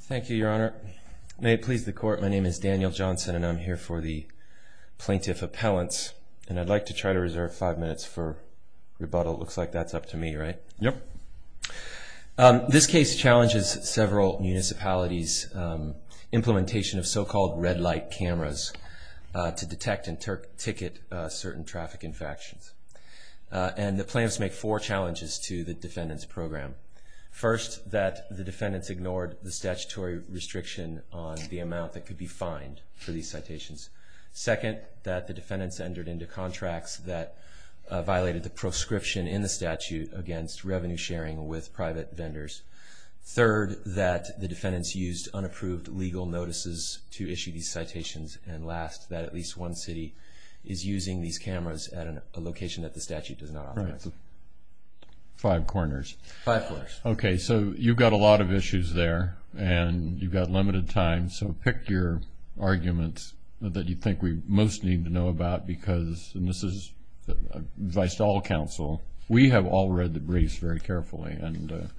Thank you, Your Honor. May it please the Court, my name is Daniel Johnson and I'm here for the Plaintiff Appellants and I'd like to try to reserve five minutes for rebuttal. Looks like that's up to me, right? Yep. This case challenges several municipalities' implementation of so-called red light cameras to detect and ticket certain traffic infections. And the plaintiffs make four challenges to the defendant's program. First, that the defendants ignored the statutory restriction on the amount that could be fined for these citations. Second, that the defendants entered into contracts that violated the proscription in the statute against revenue sharing with private vendors. Third, that the defendants used unapproved legal notices to issue these citations. And last, that at least one city is using these cameras at a location that the statute does not authorize. Right. Five corners. Five corners. Okay, so you've got a lot of issues there and you've got limited time, so pick your arguments that you think we most need to know about because this is advice to all counsel. We have all read the briefs very carefully and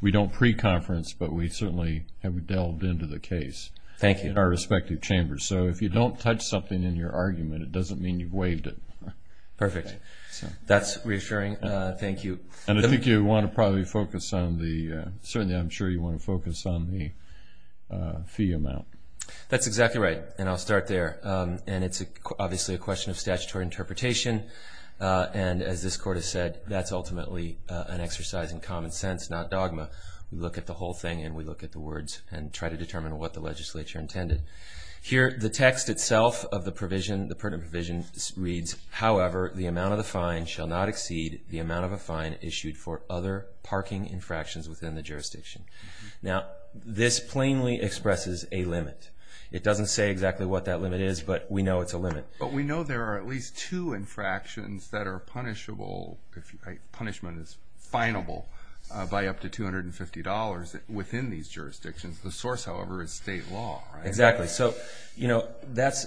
we don't pre-conference, but we certainly have delved into the case. Thank you. In our respective chambers. So, if you don't touch something in your argument, it doesn't mean you've waived it. Perfect. That's reassuring. Thank you. And I think you want to probably focus on the, certainly I'm sure you want to focus on the fee amount. That's exactly right and I'll start there. And it's obviously a question of statutory interpretation and as this court has said, that's ultimately an exercise in common sense, not dogma. We look at the whole thing and we look at the words and try to determine what the legislature intended. Here, the text itself of the provision, the pertinent provision reads, however, the amount of the fine shall not exceed the amount of a fine issued for other parking infractions within the jurisdiction. Now, this plainly expresses a limit. It doesn't say exactly what that limit is, but we know it's a limit. But we know there are at least two infractions that are punishable, punishment is finable, by up to $250 within these jurisdictions. The source, however, is state law, right? Exactly. So, you know, that's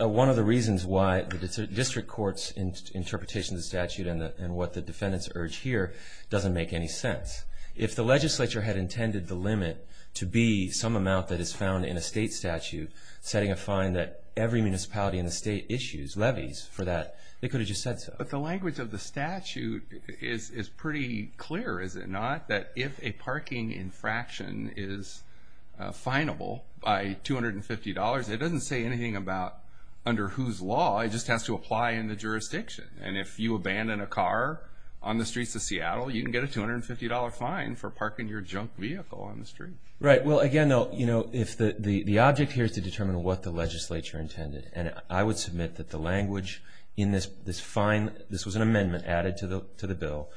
one of the reasons why the district court's interpretation of the statute and what the defendants urge here doesn't make any sense. If the legislature had intended the limit to be some amount that is found in a state statute, setting a fine that every municipality in the state issues, levies for that, they could have just said so. But the language of the statute is pretty clear, is it not? That if a parking infraction is finable by $250, it doesn't say anything about under whose law, it just has to apply in the jurisdiction. And if you abandon a car on the streets of Seattle, you can get a $250 fine for parking your junk vehicle on the street. Right. Well, again, though, you know, the object here is to determine what the legislature intended. And I would submit that the language in this fine, this was an amendment added to the bill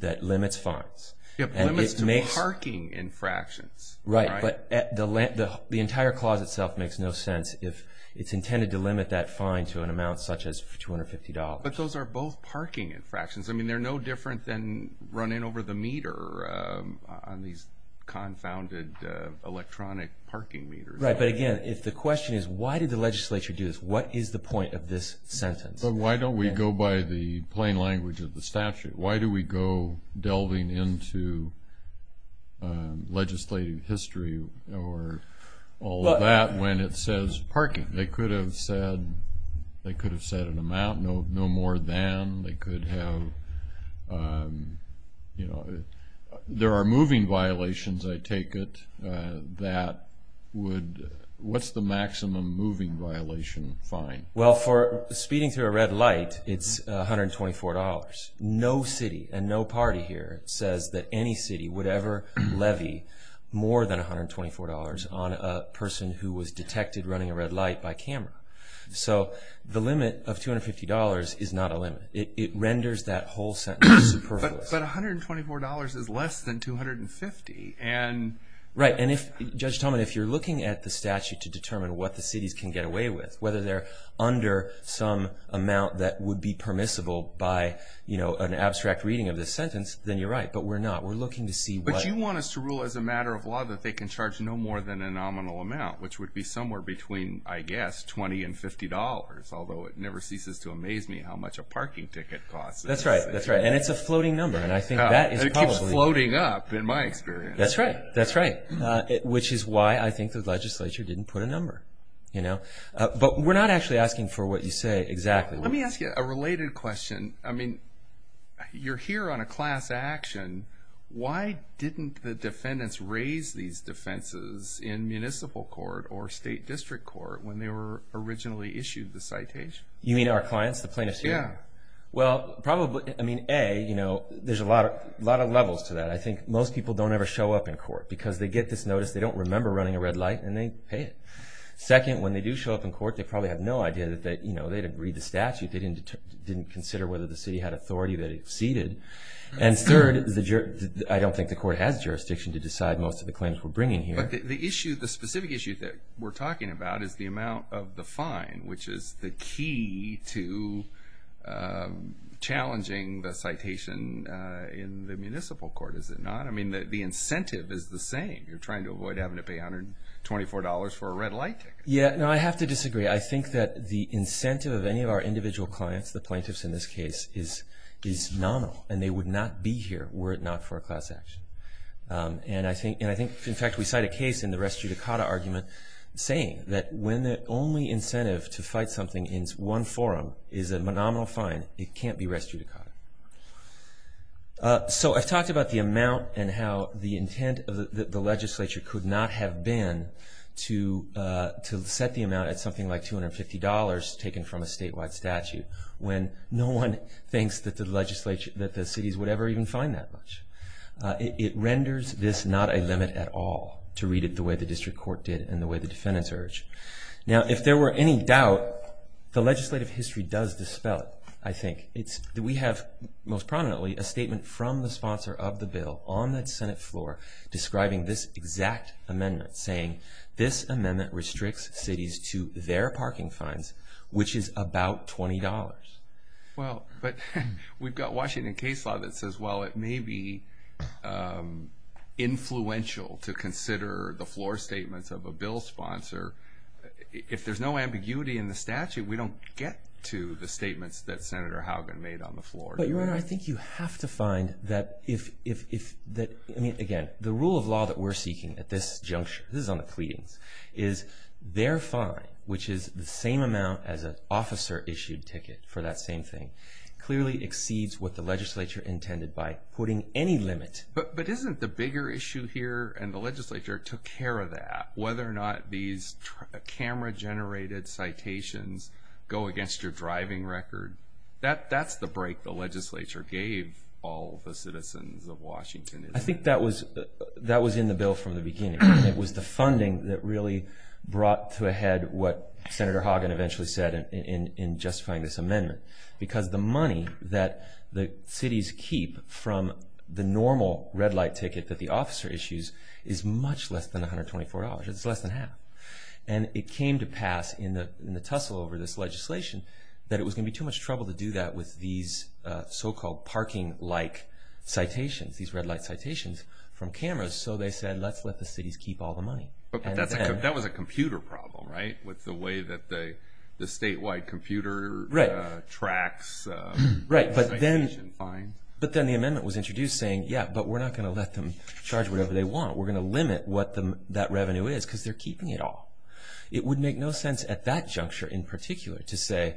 that limits fines. Limits to parking infractions. Right. But the entire clause itself makes no sense if it's intended to limit that fine to an amount such as $250. But those are both parking infractions. I mean, they're no different than running over the meter on these confounded electronic parking meters. Right. But, again, if the question is why did the legislature do this, what is the point of this sentence? But why don't we go by the plain language of the statute? Why do we go delving into legislative history or all of that when it says parking? They could have said an amount, no more than. They could have, you know, there are moving violations, I take it, that would, what's the maximum moving violation fine? Well, for speeding through a red light, it's $124. No city and no party here says that any city would ever levy more than $124 on a person who was detected running a red light by camera. So the limit of $250 is not a limit. It renders that whole sentence superfluous. But $124 is less than 250. Right. And if, Judge Talman, if you're looking at the statute to determine what the cities can get away with, whether they're under some amount that would be permissible by, you know, an abstract reading of this sentence, then you're right. But we're not. We're looking to see what. But you want us to rule as a matter of law that they can charge no more than a nominal amount, which would be somewhere between, I guess, $20 and $50, although it never ceases to amaze me how much a parking ticket costs. That's right. That's right. And it's a floating number. And I think that is probably. It keeps floating up, in my experience. That's right. That's right. Which is why I think the legislature didn't put a number, you know. But we're not actually asking for what you say exactly. Let me ask you a related question. I mean, you're here on a class action. Why didn't the defendants raise these defenses in municipal court or state district court when they were originally issued the citation? You mean our clients, the plaintiffs here? Yeah. Well, probably, I mean, A, you know, there's a lot of levels to that. I think most people don't ever show up in court because they get this notice, they don't remember running a red light, and they pay it. Second, when they do show up in court, they probably have no idea that, you know, they didn't read the statute, they didn't consider whether the city had authority that it ceded. And third, I don't think the court has jurisdiction to decide most of the claims we're bringing here. But the issue, the specific issue that we're talking about is the amount of the fine, which is the key to challenging the citation in the municipal court, is it not? I mean, the incentive is the same. You're trying to avoid having to pay $124 for a red light ticket. Yeah. No, I have to disagree. I think that the incentive of any of our individual clients, the plaintiffs in this case, is nominal, and they would not be here were it not for a class action. And I think, in fact, we cite a case in the res judicata argument saying that when the only incentive to fight something in one forum is a nominal fine, it can't be res judicata. So I've talked about the amount and how the intent of the legislature could not have been to set the amount at something like $250 taken from a statewide statute when no one thinks that the cities would ever even fine that much. It renders this not a limit at all, to read it the way the district court did and the way the defendants urged. Now, if there were any doubt, the legislative history does dispel it, I think. We have, most prominently, a statement from the sponsor of the bill on the Senate floor describing this exact amendment, saying this amendment restricts cities to their parking fines, which is about $20. Well, but we've got Washington case law that says, well, it may be influential to consider the floor statements of a bill sponsor. If there's no ambiguity in the statute, we don't get to the statements that Senator Haugen made on the floor. But, Your Honor, I think you have to find that if, I mean, again, the rule of law that we're seeking at this juncture, this is on the pleadings, is their fine, which is the same amount as an officer-issued ticket for that same thing, clearly exceeds what the legislature intended by putting any limit. But isn't the bigger issue here, and the legislature took care of that, whether or not these camera-generated citations go against your driving record, that's the break the legislature gave all the citizens of Washington. I think that was in the bill from the beginning. It was the funding that really brought to a head what Senator Haugen eventually said in justifying this amendment. Because the money that the cities keep from the normal red-light ticket that the officer issues is much less than $124. It's less than half. And it came to pass in the tussle over this legislation that it was going to be too much trouble to do that with these so-called parking-like citations, these red-light citations from cameras. So they said, let's let the cities keep all the money. But that was a computer problem, right, with the way that the statewide computer tracks citation fines? But then the amendment was introduced saying, yeah, but we're not going to let them charge whatever they want. We're going to limit what that revenue is because they're keeping it all. It would make no sense at that juncture in particular to say,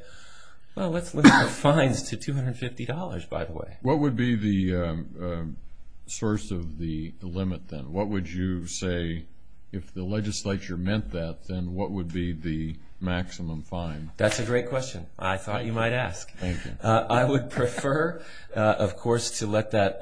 well, let's limit the fines to $250, by the way. What would be the source of the limit then? What would you say, if the legislature meant that, then what would be the maximum fine? That's a great question. I thought you might ask. I would prefer, of course, to let that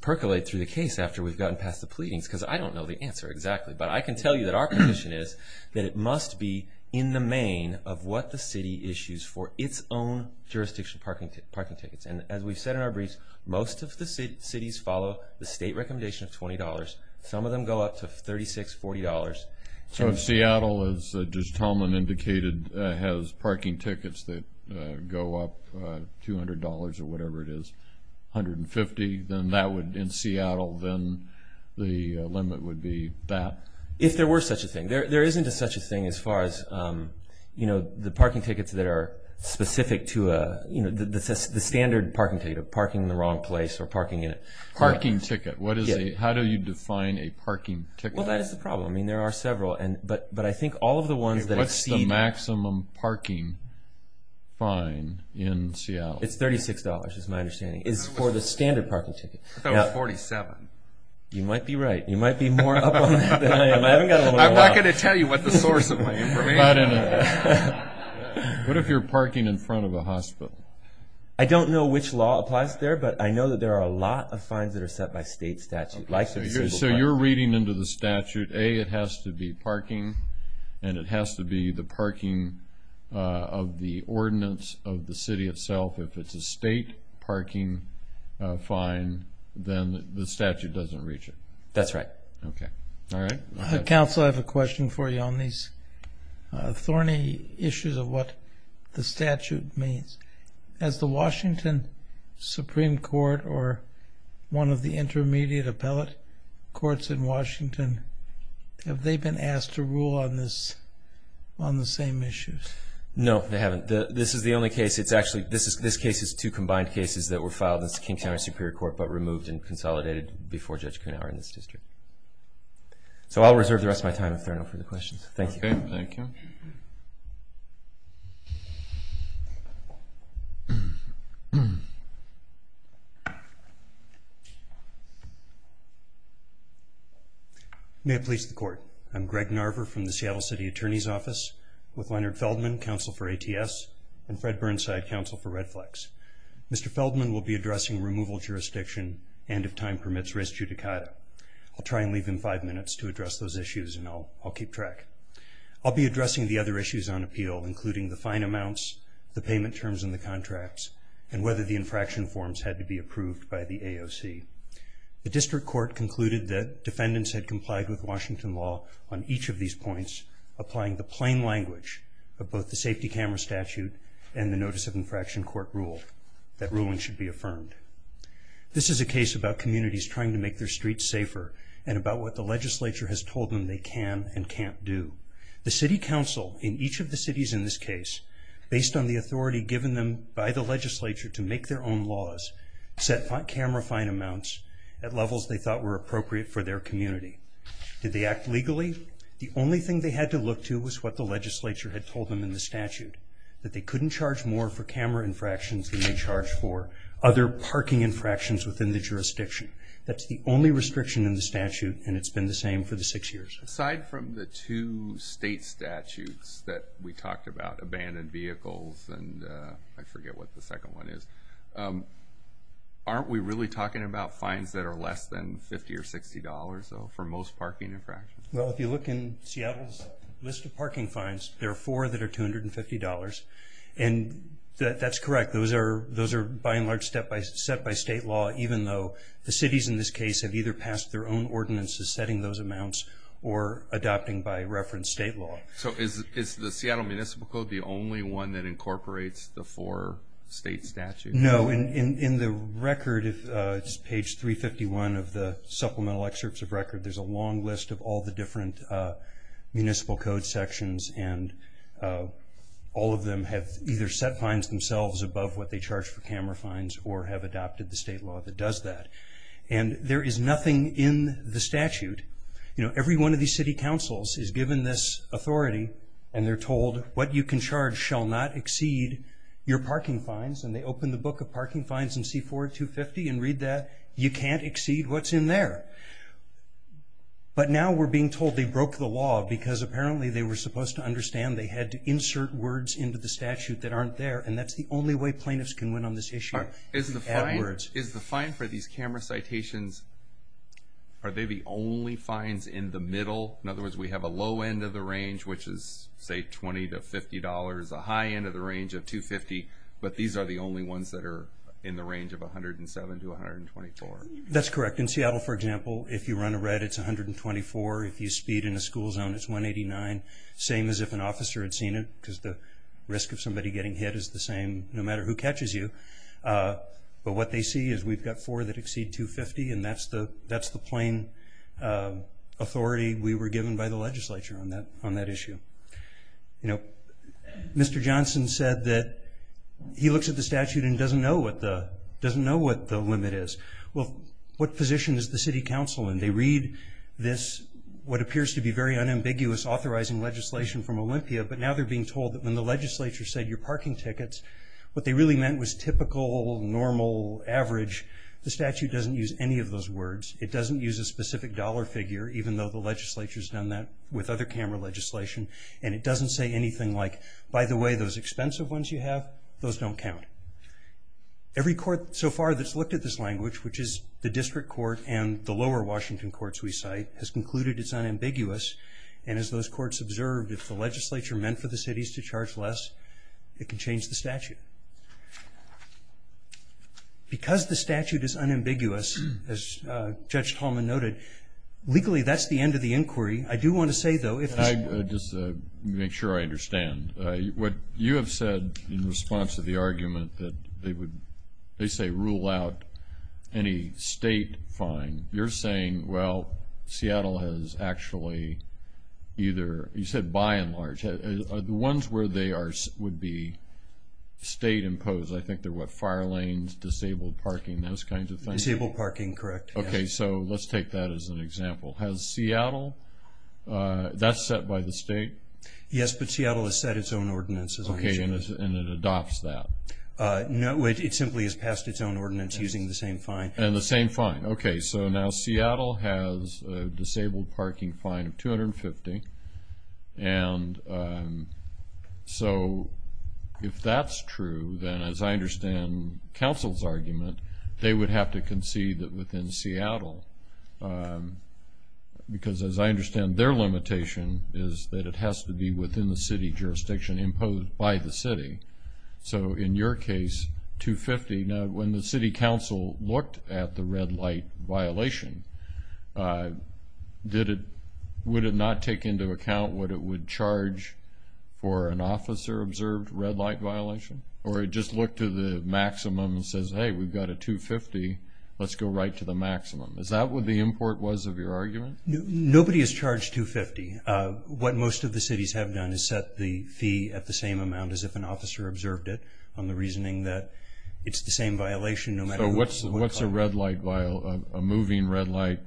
percolate through the case after we've gotten past the pleadings because I don't know the answer exactly. But I can tell you that our position is that it must be in the main of what the city issues for its own jurisdiction parking tickets. And as we've said in our briefs, most of the cities follow the state recommendation of $20. Some of them go up to $36, $40. So if Seattle, as Judge Tomlin indicated, has parking tickets that go up $200 or whatever it is, $150, then that would, in Seattle, then the limit would be that. If there were such a thing. There isn't such a thing as far as, you know, the parking tickets that are specific to a, you know, the standard parking ticket of parking in the wrong place or parking in a parking ticket. How do you define a parking ticket? Well, that is the problem. I mean, there are several. But I think all of the ones that exceed that. What's the maximum parking fine in Seattle? It's $36 is my understanding. Is for the standard parking ticket. I thought it was $47. You might be right. You might be more up on that than I am. I haven't got a whole lot. I'm not going to tell you what the source of my information is. What if you're parking in front of a hospital? I don't know which law applies there, but I know that there are a lot of fines that are set by state statute. So you're reading into the statute, A, it has to be parking, and it has to be the parking of the ordinance of the city itself. If it's a state parking fine, then the statute doesn't reach it. That's right. Okay. All right. Counsel, I have a question for you on these thorny issues of what the statute means. Has the Washington Supreme Court or one of the intermediate appellate courts in Washington, have they been asked to rule on the same issues? No, they haven't. This is the only case. Actually, this case is two combined cases that were filed in King County Superior Court but removed and consolidated before Judge Kuhnhauer in this district. So I'll reserve the rest of my time if there are no further questions. Thank you. Okay. Thank you. May it please the Court, I'm Greg Narver from the Seattle City Attorney's Office with Leonard Feldman, Counsel for ATS, and Fred Burnside, Counsel for Red Flex. Mr. Feldman will be addressing removal jurisdiction and, if time permits, res judicata. I'll try and leave him five minutes to address those issues, and I'll keep track. I'll be addressing the other issues on appeal, including the fine amounts, the payment terms in the contracts, and whether the infraction forms had to be approved by the AOC. The district court concluded that defendants had complied with Washington law on each of these points, applying the plain language of both the safety camera statute and the notice of infraction court rule, that ruling should be affirmed. This is a case about communities trying to make their streets safer and about what the legislature has told them they can and can't do. The city council in each of the cities in this case, based on the authority given them by the legislature to make their own laws, set camera fine amounts at levels they thought were appropriate for their community. Did they act legally? The only thing they had to look to was what the legislature had told them in the statute, that they couldn't charge more for camera infractions than they charged for other parking infractions within the jurisdiction. That's the only restriction in the statute, and it's been the same for the six years. Aside from the two state statutes that we talked about, abandoned vehicles and I forget what the second one is, aren't we really talking about fines that are less than $50 or $60, though, for most parking infractions? If you look in Seattle's list of parking fines, there are four that are $250. That's correct. Those are by and large set by state law, even though the cities in this case have either passed their own ordinances setting those amounts or adopting by reference state law. Is the Seattle Municipal Code the only one that incorporates the four state statutes? No. In the record, page 351 of the supplemental excerpts of record, there's a long list of all the different municipal code sections, and all of them have either set fines themselves above what they charge for camera fines or have adopted the state law that does that. There is nothing in the statute. Every one of these city councils is given this authority, and they're told, what you can charge shall not exceed your parking fines. And they open the book of parking fines in C-4-250 and read that. You can't exceed what's in there. But now we're being told they broke the law because apparently they were supposed to understand they had to insert words into the statute that aren't there, and that's the only way plaintiffs can win on this issue. Is the fine for these camera citations, are they the only fines in the middle? In other words, we have a low end of the range, which is, say, $20 to $50, a high end of the range of $250, but these are the only ones that are in the range of $107 to $124. That's correct. In Seattle, for example, if you run a red, it's $124. If you speed in a school zone, it's $189, same as if an officer had seen it because the risk of somebody getting hit is the same no matter who catches you. But what they see is we've got four that exceed $250, and that's the plain authority we were given by the legislature on that issue. You know, Mr. Johnson said that he looks at the statute and doesn't know what the limit is. Well, what position is the city council in? They read this, what appears to be very unambiguous, authorizing legislation from Olympia, but now they're being told that when the legislature said your parking tickets, what they really meant was typical, normal, average. The statute doesn't use any of those words. It doesn't use a specific dollar figure, even though the legislature has done that with other CAMRA legislation, and it doesn't say anything like, by the way, those expensive ones you have, those don't count. Every court so far that's looked at this language, which is the district court and the lower Washington courts we cite, has concluded it's unambiguous, and as those courts observed, if the legislature meant for the cities to charge less, it can change the statute. Because the statute is unambiguous, as Judge Tallman noted, legally that's the end of the inquiry. I do want to say, though, if this court— Just to make sure I understand, what you have said in response to the argument that they say rule out any state fine, you're saying, well, Seattle has actually either—you said by and large. The ones where they would be state-imposed, I think they're what, fire lanes, disabled parking, those kinds of things? Disabled parking, correct. Okay, so let's take that as an example. Has Seattle—that's set by the state? Yes, but Seattle has set its own ordinance. Okay, and it adopts that? No, it simply has passed its own ordinance using the same fine. And the same fine. Okay, so now Seattle has a disabled parking fine of $250, and so if that's true, then as I understand counsel's argument, they would have to concede that within Seattle, because as I understand their limitation is that it has to be within the city jurisdiction, imposed by the city. So in your case, $250. Now, when the city council looked at the red light violation, would it not take into account what it would charge for an officer-observed red light violation? Or just look to the maximum and says, hey, we've got a $250, let's go right to the maximum. Is that what the import was of your argument? Nobody is charged $250. What most of the cities have done is set the fee at the same amount as if an officer observed it, on the reasoning that it's the same violation no matter what color. So what's a moving red light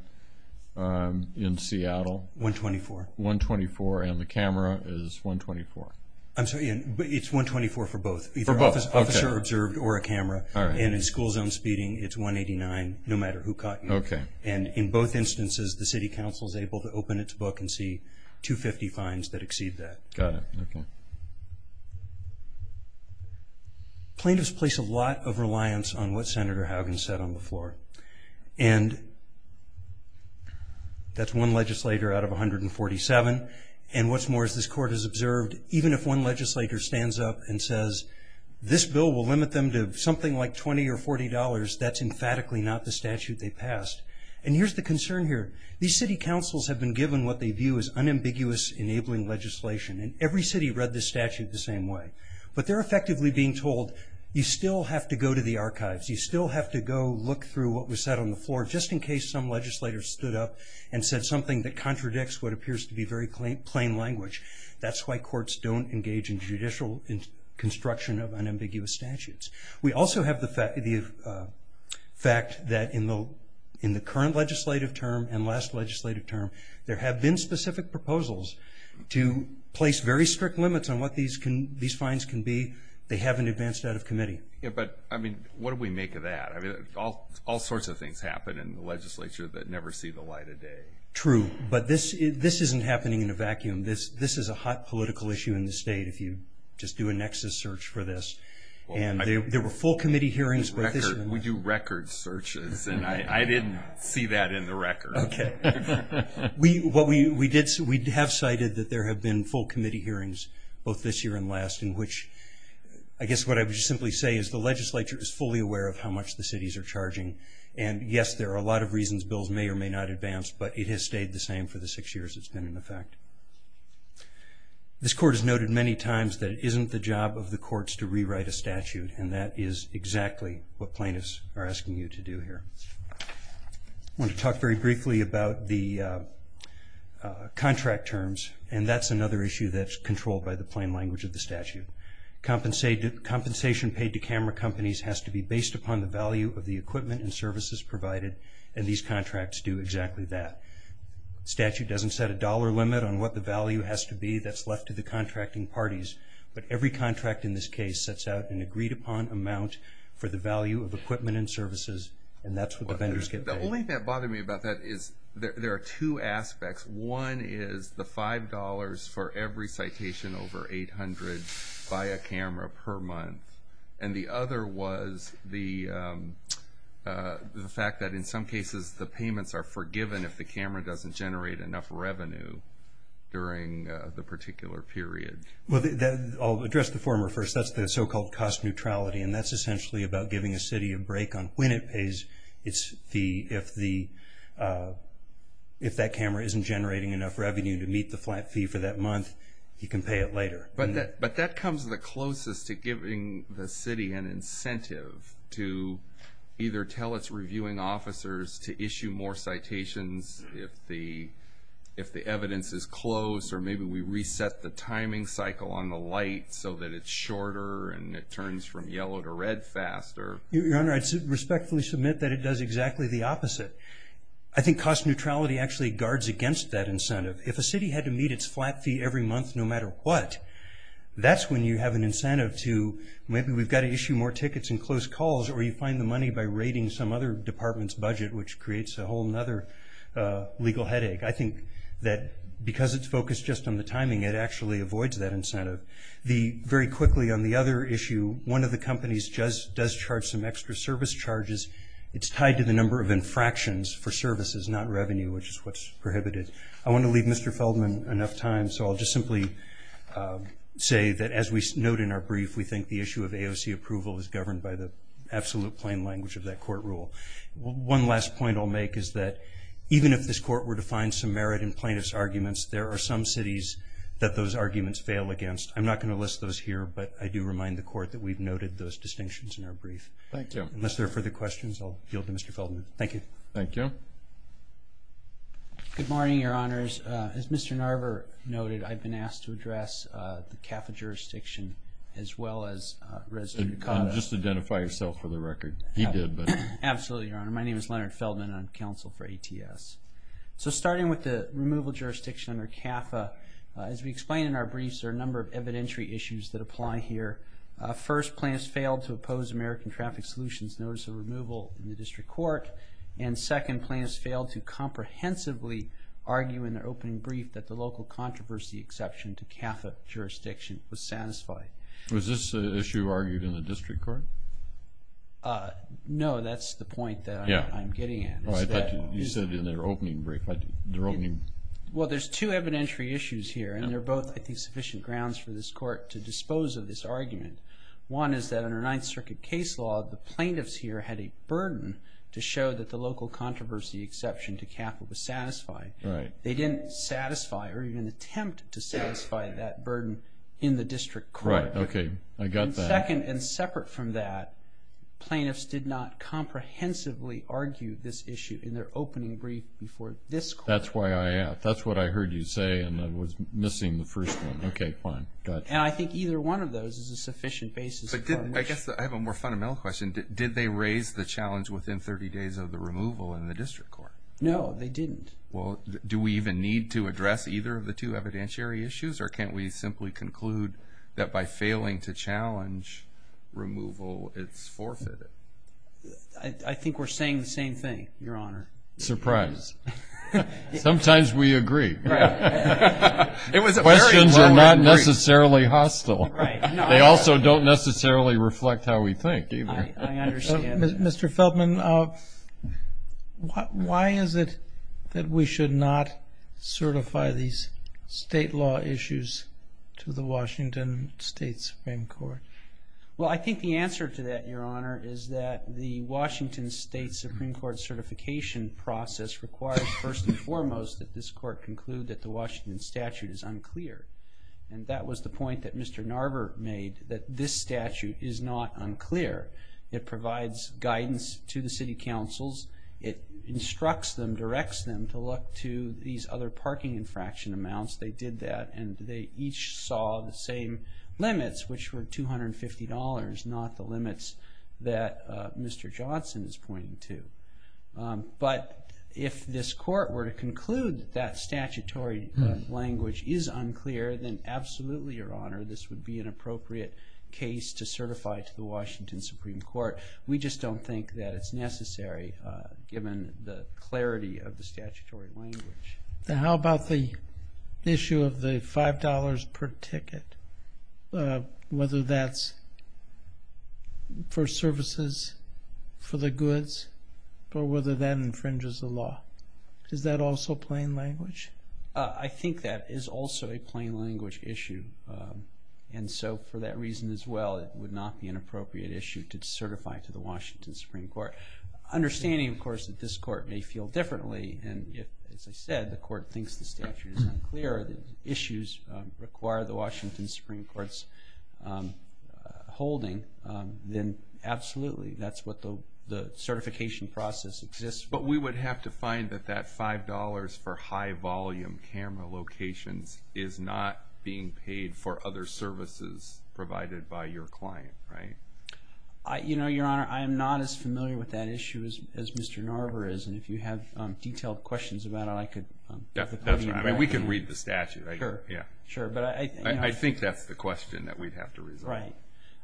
in Seattle? $124. $124, and the camera is $124. I'm sorry, it's $124 for both, either officer-observed or a camera. And in school zone speeding, it's $189, no matter who caught you. And in both instances, the city council is able to open its book and see $250 fines that exceed that. Got it. Plaintiffs place a lot of reliance on what Senator Haugen said on the floor, and that's one legislator out of 147. And what's more, as this court has observed, even if one legislator stands up and says, this bill will limit them to something like $20 or $40, that's emphatically not the statute they passed. And here's the concern here. These city councils have been given what they view as unambiguous enabling legislation, and every city read this statute the same way. But they're effectively being told, you still have to go to the archives, you still have to go look through what was said on the floor, just in case some legislator stood up and said something that contradicts what appears to be very plain language. That's why courts don't engage in judicial construction of unambiguous statutes. We also have the fact that in the current legislative term and last legislative term, there have been specific proposals to place very strict limits on what these fines can be. They haven't advanced out of committee. But, I mean, what do we make of that? All sorts of things happen in the legislature that never see the light of day. True. But this isn't happening in a vacuum. This is a hot political issue in the state, if you just do a nexus search for this. And there were full committee hearings. We do record searches, and I didn't see that in the record. Okay. We have cited that there have been full committee hearings, both this year and last, in which I guess what I would simply say is the legislature is fully aware of how much the cities are charging. And, yes, there are a lot of reasons bills may or may not advance, but it has stayed the same for the six years it's been in effect. This court has noted many times that it isn't the job of the courts to rewrite a statute, and that is exactly what plaintiffs are asking you to do here. I want to talk very briefly about the contract terms, and that's another issue that's controlled by the plain language of the statute. Compensation paid to camera companies has to be based upon the value of the equipment and services provided, and these contracts do exactly that. Statute doesn't set a dollar limit on what the value has to be that's left to the contracting parties, but every contract in this case sets out an agreed-upon amount for the value of equipment and services, and that's what the vendors get paid. The only thing that bothered me about that is there are two aspects. One is the $5 for every citation over 800 by a camera per month, and the other was the fact that in some cases the payments are forgiven if the camera doesn't generate enough revenue during the particular period. Well, I'll address the former first. That's the so-called cost neutrality, and that's essentially about giving a city a break on when it pays its fee if that camera isn't generating enough revenue to meet the flat fee for that month. You can pay it later. But that comes the closest to giving the city an incentive to either tell its reviewing officers to issue more citations if the evidence is close, or maybe we reset the timing cycle on the light so that it's shorter and it turns from yellow to red faster. Your Honor, I'd respectfully submit that it does exactly the opposite. I think cost neutrality actually guards against that incentive. If a city had to meet its flat fee every month no matter what, that's when you have an incentive to maybe we've got to issue more tickets and close calls or you find the money by raiding some other department's budget, which creates a whole other legal headache. I think that because it's focused just on the timing, it actually avoids that incentive. Very quickly on the other issue, one of the companies does charge some extra service charges. It's tied to the number of infractions for services, not revenue, which is what's prohibited. I want to leave Mr. Feldman enough time, so I'll just simply say that as we note in our brief, we think the issue of AOC approval is governed by the absolute plain language of that court rule. One last point I'll make is that even if this court were to find some merit in plaintiff's arguments, there are some cities that those arguments fail against. I'm not going to list those here, but I do remind the court that we've noted those distinctions in our brief. Thank you. Unless there are further questions, I'll yield to Mr. Feldman. Thank you. Thank you. Good morning, Your Honors. As Mr. Narver noted, I've been asked to address the CAFA jurisdiction as well as Resident of Dakota. Just identify yourself for the record. He did, but. Absolutely, Your Honor. My name is Leonard Feldman. I'm counsel for ATS. Starting with the removal jurisdiction under CAFA, as we explained in our briefs, there are a number of evidentiary issues that apply here. First, plaintiffs failed to oppose American Traffic Solutions notice of removal in the district court, and second, plaintiffs failed to comprehensively argue in their opening brief that the local controversy exception to CAFA jurisdiction was satisfied. Was this an issue argued in the district court? No, that's the point that I'm getting at. You said in their opening brief. Well, there's two evidentiary issues here, and they're both, I think, sufficient grounds for this court to dispose of this argument. One is that under Ninth Circuit case law, the plaintiffs here had a burden to show that the local controversy exception to CAFA was satisfied. Right. They didn't satisfy or even attempt to satisfy that burden in the district court. Right. Okay. I got that. Second, and separate from that, plaintiffs did not comprehensively argue this issue in their opening brief before this court. That's why I asked. That's what I heard you say, and I was missing the first one. Okay, fine. Got it. And I think either one of those is a sufficient basis. I guess I have a more fundamental question. Did they raise the challenge within 30 days of the removal in the district court? No, they didn't. Well, do we even need to address either of the two evidentiary issues, or can't we simply conclude that by failing to challenge removal it's forfeited? I think we're saying the same thing, Your Honor. Surprise. Sometimes we agree. Right. Questions are not necessarily hostile. Right. They also don't necessarily reflect how we think either. I understand. Mr. Feldman, why is it that we should not certify these state law issues to the Washington State Supreme Court? Well, I think the answer to that, Your Honor, is that the Washington State Supreme Court certification process requires, first and foremost, that this court conclude that the Washington statute is unclear. And that was the point that Mr. Narver made, that this statute is not unclear. It provides guidance to the city councils. It instructs them, directs them to look to these other parking infraction amounts. They did that, and they each saw the same limits, which were $250, not the limits that Mr. Johnson is pointing to. But if this court were to conclude that statutory language is unclear, then absolutely, Your Honor, this would be an appropriate case to certify to the Washington Supreme Court. We just don't think that it's necessary, given the clarity of the statutory language. Then how about the issue of the $5 per ticket, whether that's for services, for the goods, or whether that infringes the law? Is that also plain language? I think that is also a plain language issue. And so for that reason as well, it would not be an appropriate issue to certify to the Washington Supreme Court. Understanding, of course, that this court may feel differently, and if, as I said, the court thinks the statute is unclear, the issues require the Washington Supreme Court's holding, then absolutely, that's what the certification process exists for. But we would have to find that that $5 for high-volume camera locations is not being paid for other services provided by your client, right? Your Honor, I am not as familiar with that issue as Mr. Narver is, and if you have detailed questions about it, I could... That's right. We can read the statute. Sure. I think that's the question that we'd have to resolve. That's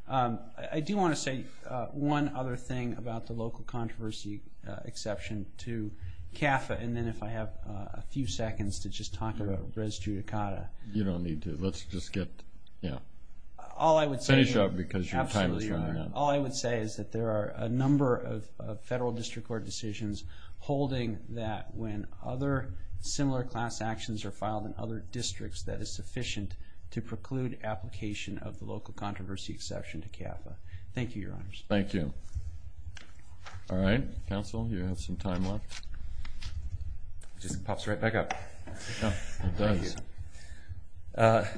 right. I do want to say one other thing about the local controversy exception to CAFA, and then if I have a few seconds to just talk about res judicata. You don't need to. Let's just get... Finish up because your time is running out. All I would say is that there are a number of federal district court decisions holding that when other similar class actions are filed in other districts that is sufficient to preclude application of the local controversy exception to CAFA. Thank you, Your Honors. Thank you. All right. Counsel, you have some time left. It just pops right back up. It does.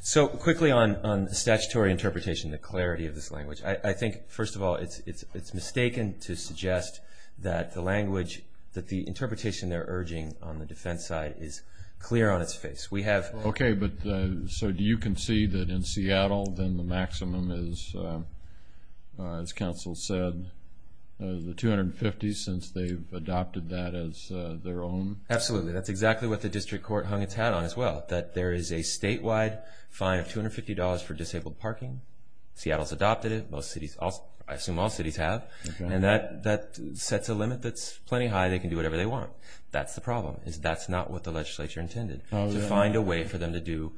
So quickly on statutory interpretation, the clarity of this language. I think, first of all, it's mistaken to suggest that the language, the interpretation they're urging on the defense side is clear on its face. Okay, but so do you concede that in Seattle then the maximum is, as counsel said, the $250 since they've adopted that as their own? Absolutely. That's exactly what the district court hung its hat on as well, that there is a statewide fine of $250 for disabled parking. Seattle's adopted it. I assume all cities have, and that sets a limit that's plenty high. They can do whatever they want. That's the problem is that's not what the legislature intended, to find a way for them to do,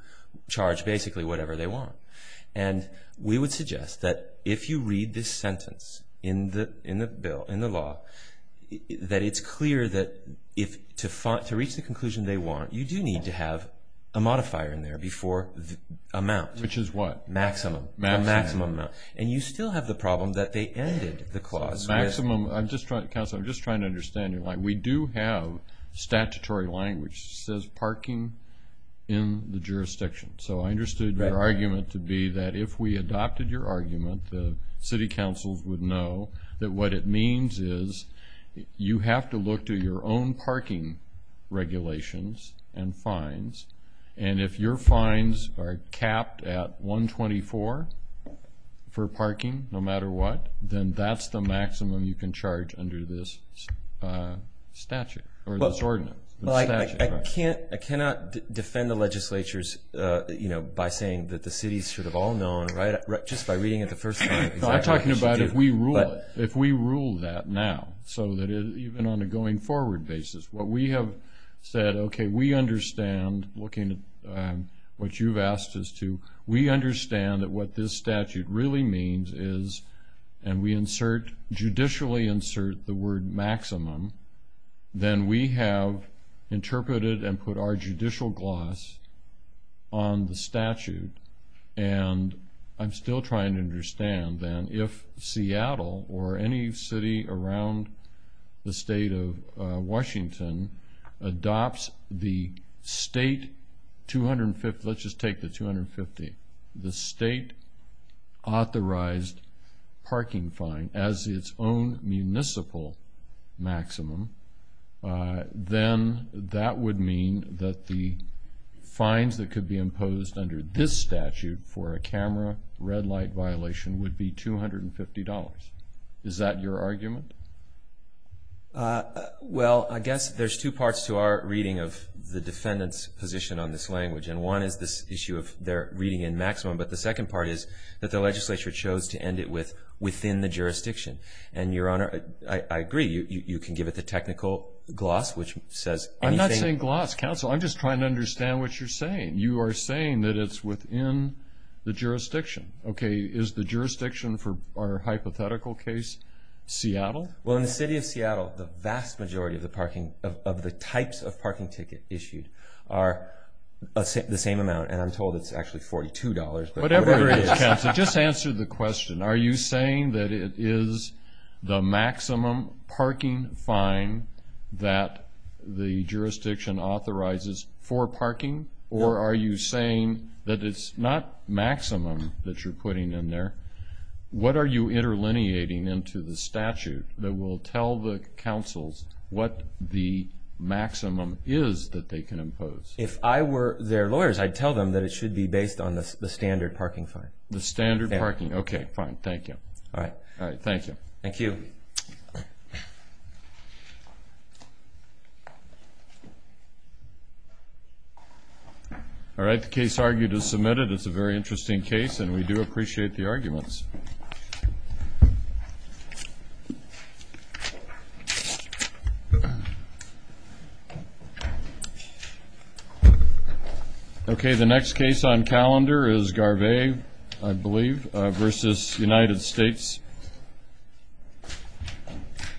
charge basically whatever they want. And we would suggest that if you read this sentence in the law, that it's clear that to reach the conclusion they want, you do need to have a modifier in there before the amount. Which is what? Maximum. Maximum. And you still have the problem that they ended the clause with. Counsel, I'm just trying to understand your line. We do have statutory language that says parking in the jurisdiction. So I understood your argument to be that if we adopted your argument, the city councils would know that what it means is you have to look to your own parking regulations and fines. And if your fines are capped at $124 for parking, no matter what, then that's the maximum you can charge under this statute or this ordinance. I cannot defend the legislatures by saying that the cities should have all known, just by reading it the first time. I'm talking about if we rule that now, so that even on a going forward basis, what we have said, okay, we understand, looking at what you've asked us to, we understand that what this statute really means is, and we judicially insert the word maximum, then we have interpreted and put our judicial gloss on the statute. And I'm still trying to understand then if Seattle or any city around the state of Washington adopts the state, let's just take the $250, the state authorized parking fine as its own municipal maximum, then that would mean that the fines that could be imposed under this statute for a camera red light violation would be $250. Is that your argument? Well, I guess there's two parts to our reading of the defendant's position on this language, and one is this issue of their reading in maximum, but the second part is that the legislature chose to end it within the jurisdiction. And, Your Honor, I agree. You can give it the technical gloss, which says anything. I'm not saying gloss, counsel. I'm just trying to understand what you're saying. You are saying that it's within the jurisdiction. Okay. Is the jurisdiction for our hypothetical case Seattle? Well, in the city of Seattle, the vast majority of the types of parking ticket issued are the same amount, and I'm told it's actually $42. Whatever it is, counsel, just answer the question. Are you saying that it is the maximum parking fine that the jurisdiction authorizes for parking, or are you saying that it's not maximum that you're putting in there? What are you interlineating into the statute that will tell the counsels what the maximum is that they can impose? If I were their lawyers, I'd tell them that it should be based on the standard parking fine. The standard parking. Okay, fine. Thank you. All right. Thank you. Thank you. All right. The case argued is submitted. It's a very interesting case, and we do appreciate the arguments. Okay. The next case on calendar is Garvey, I believe, versus United States.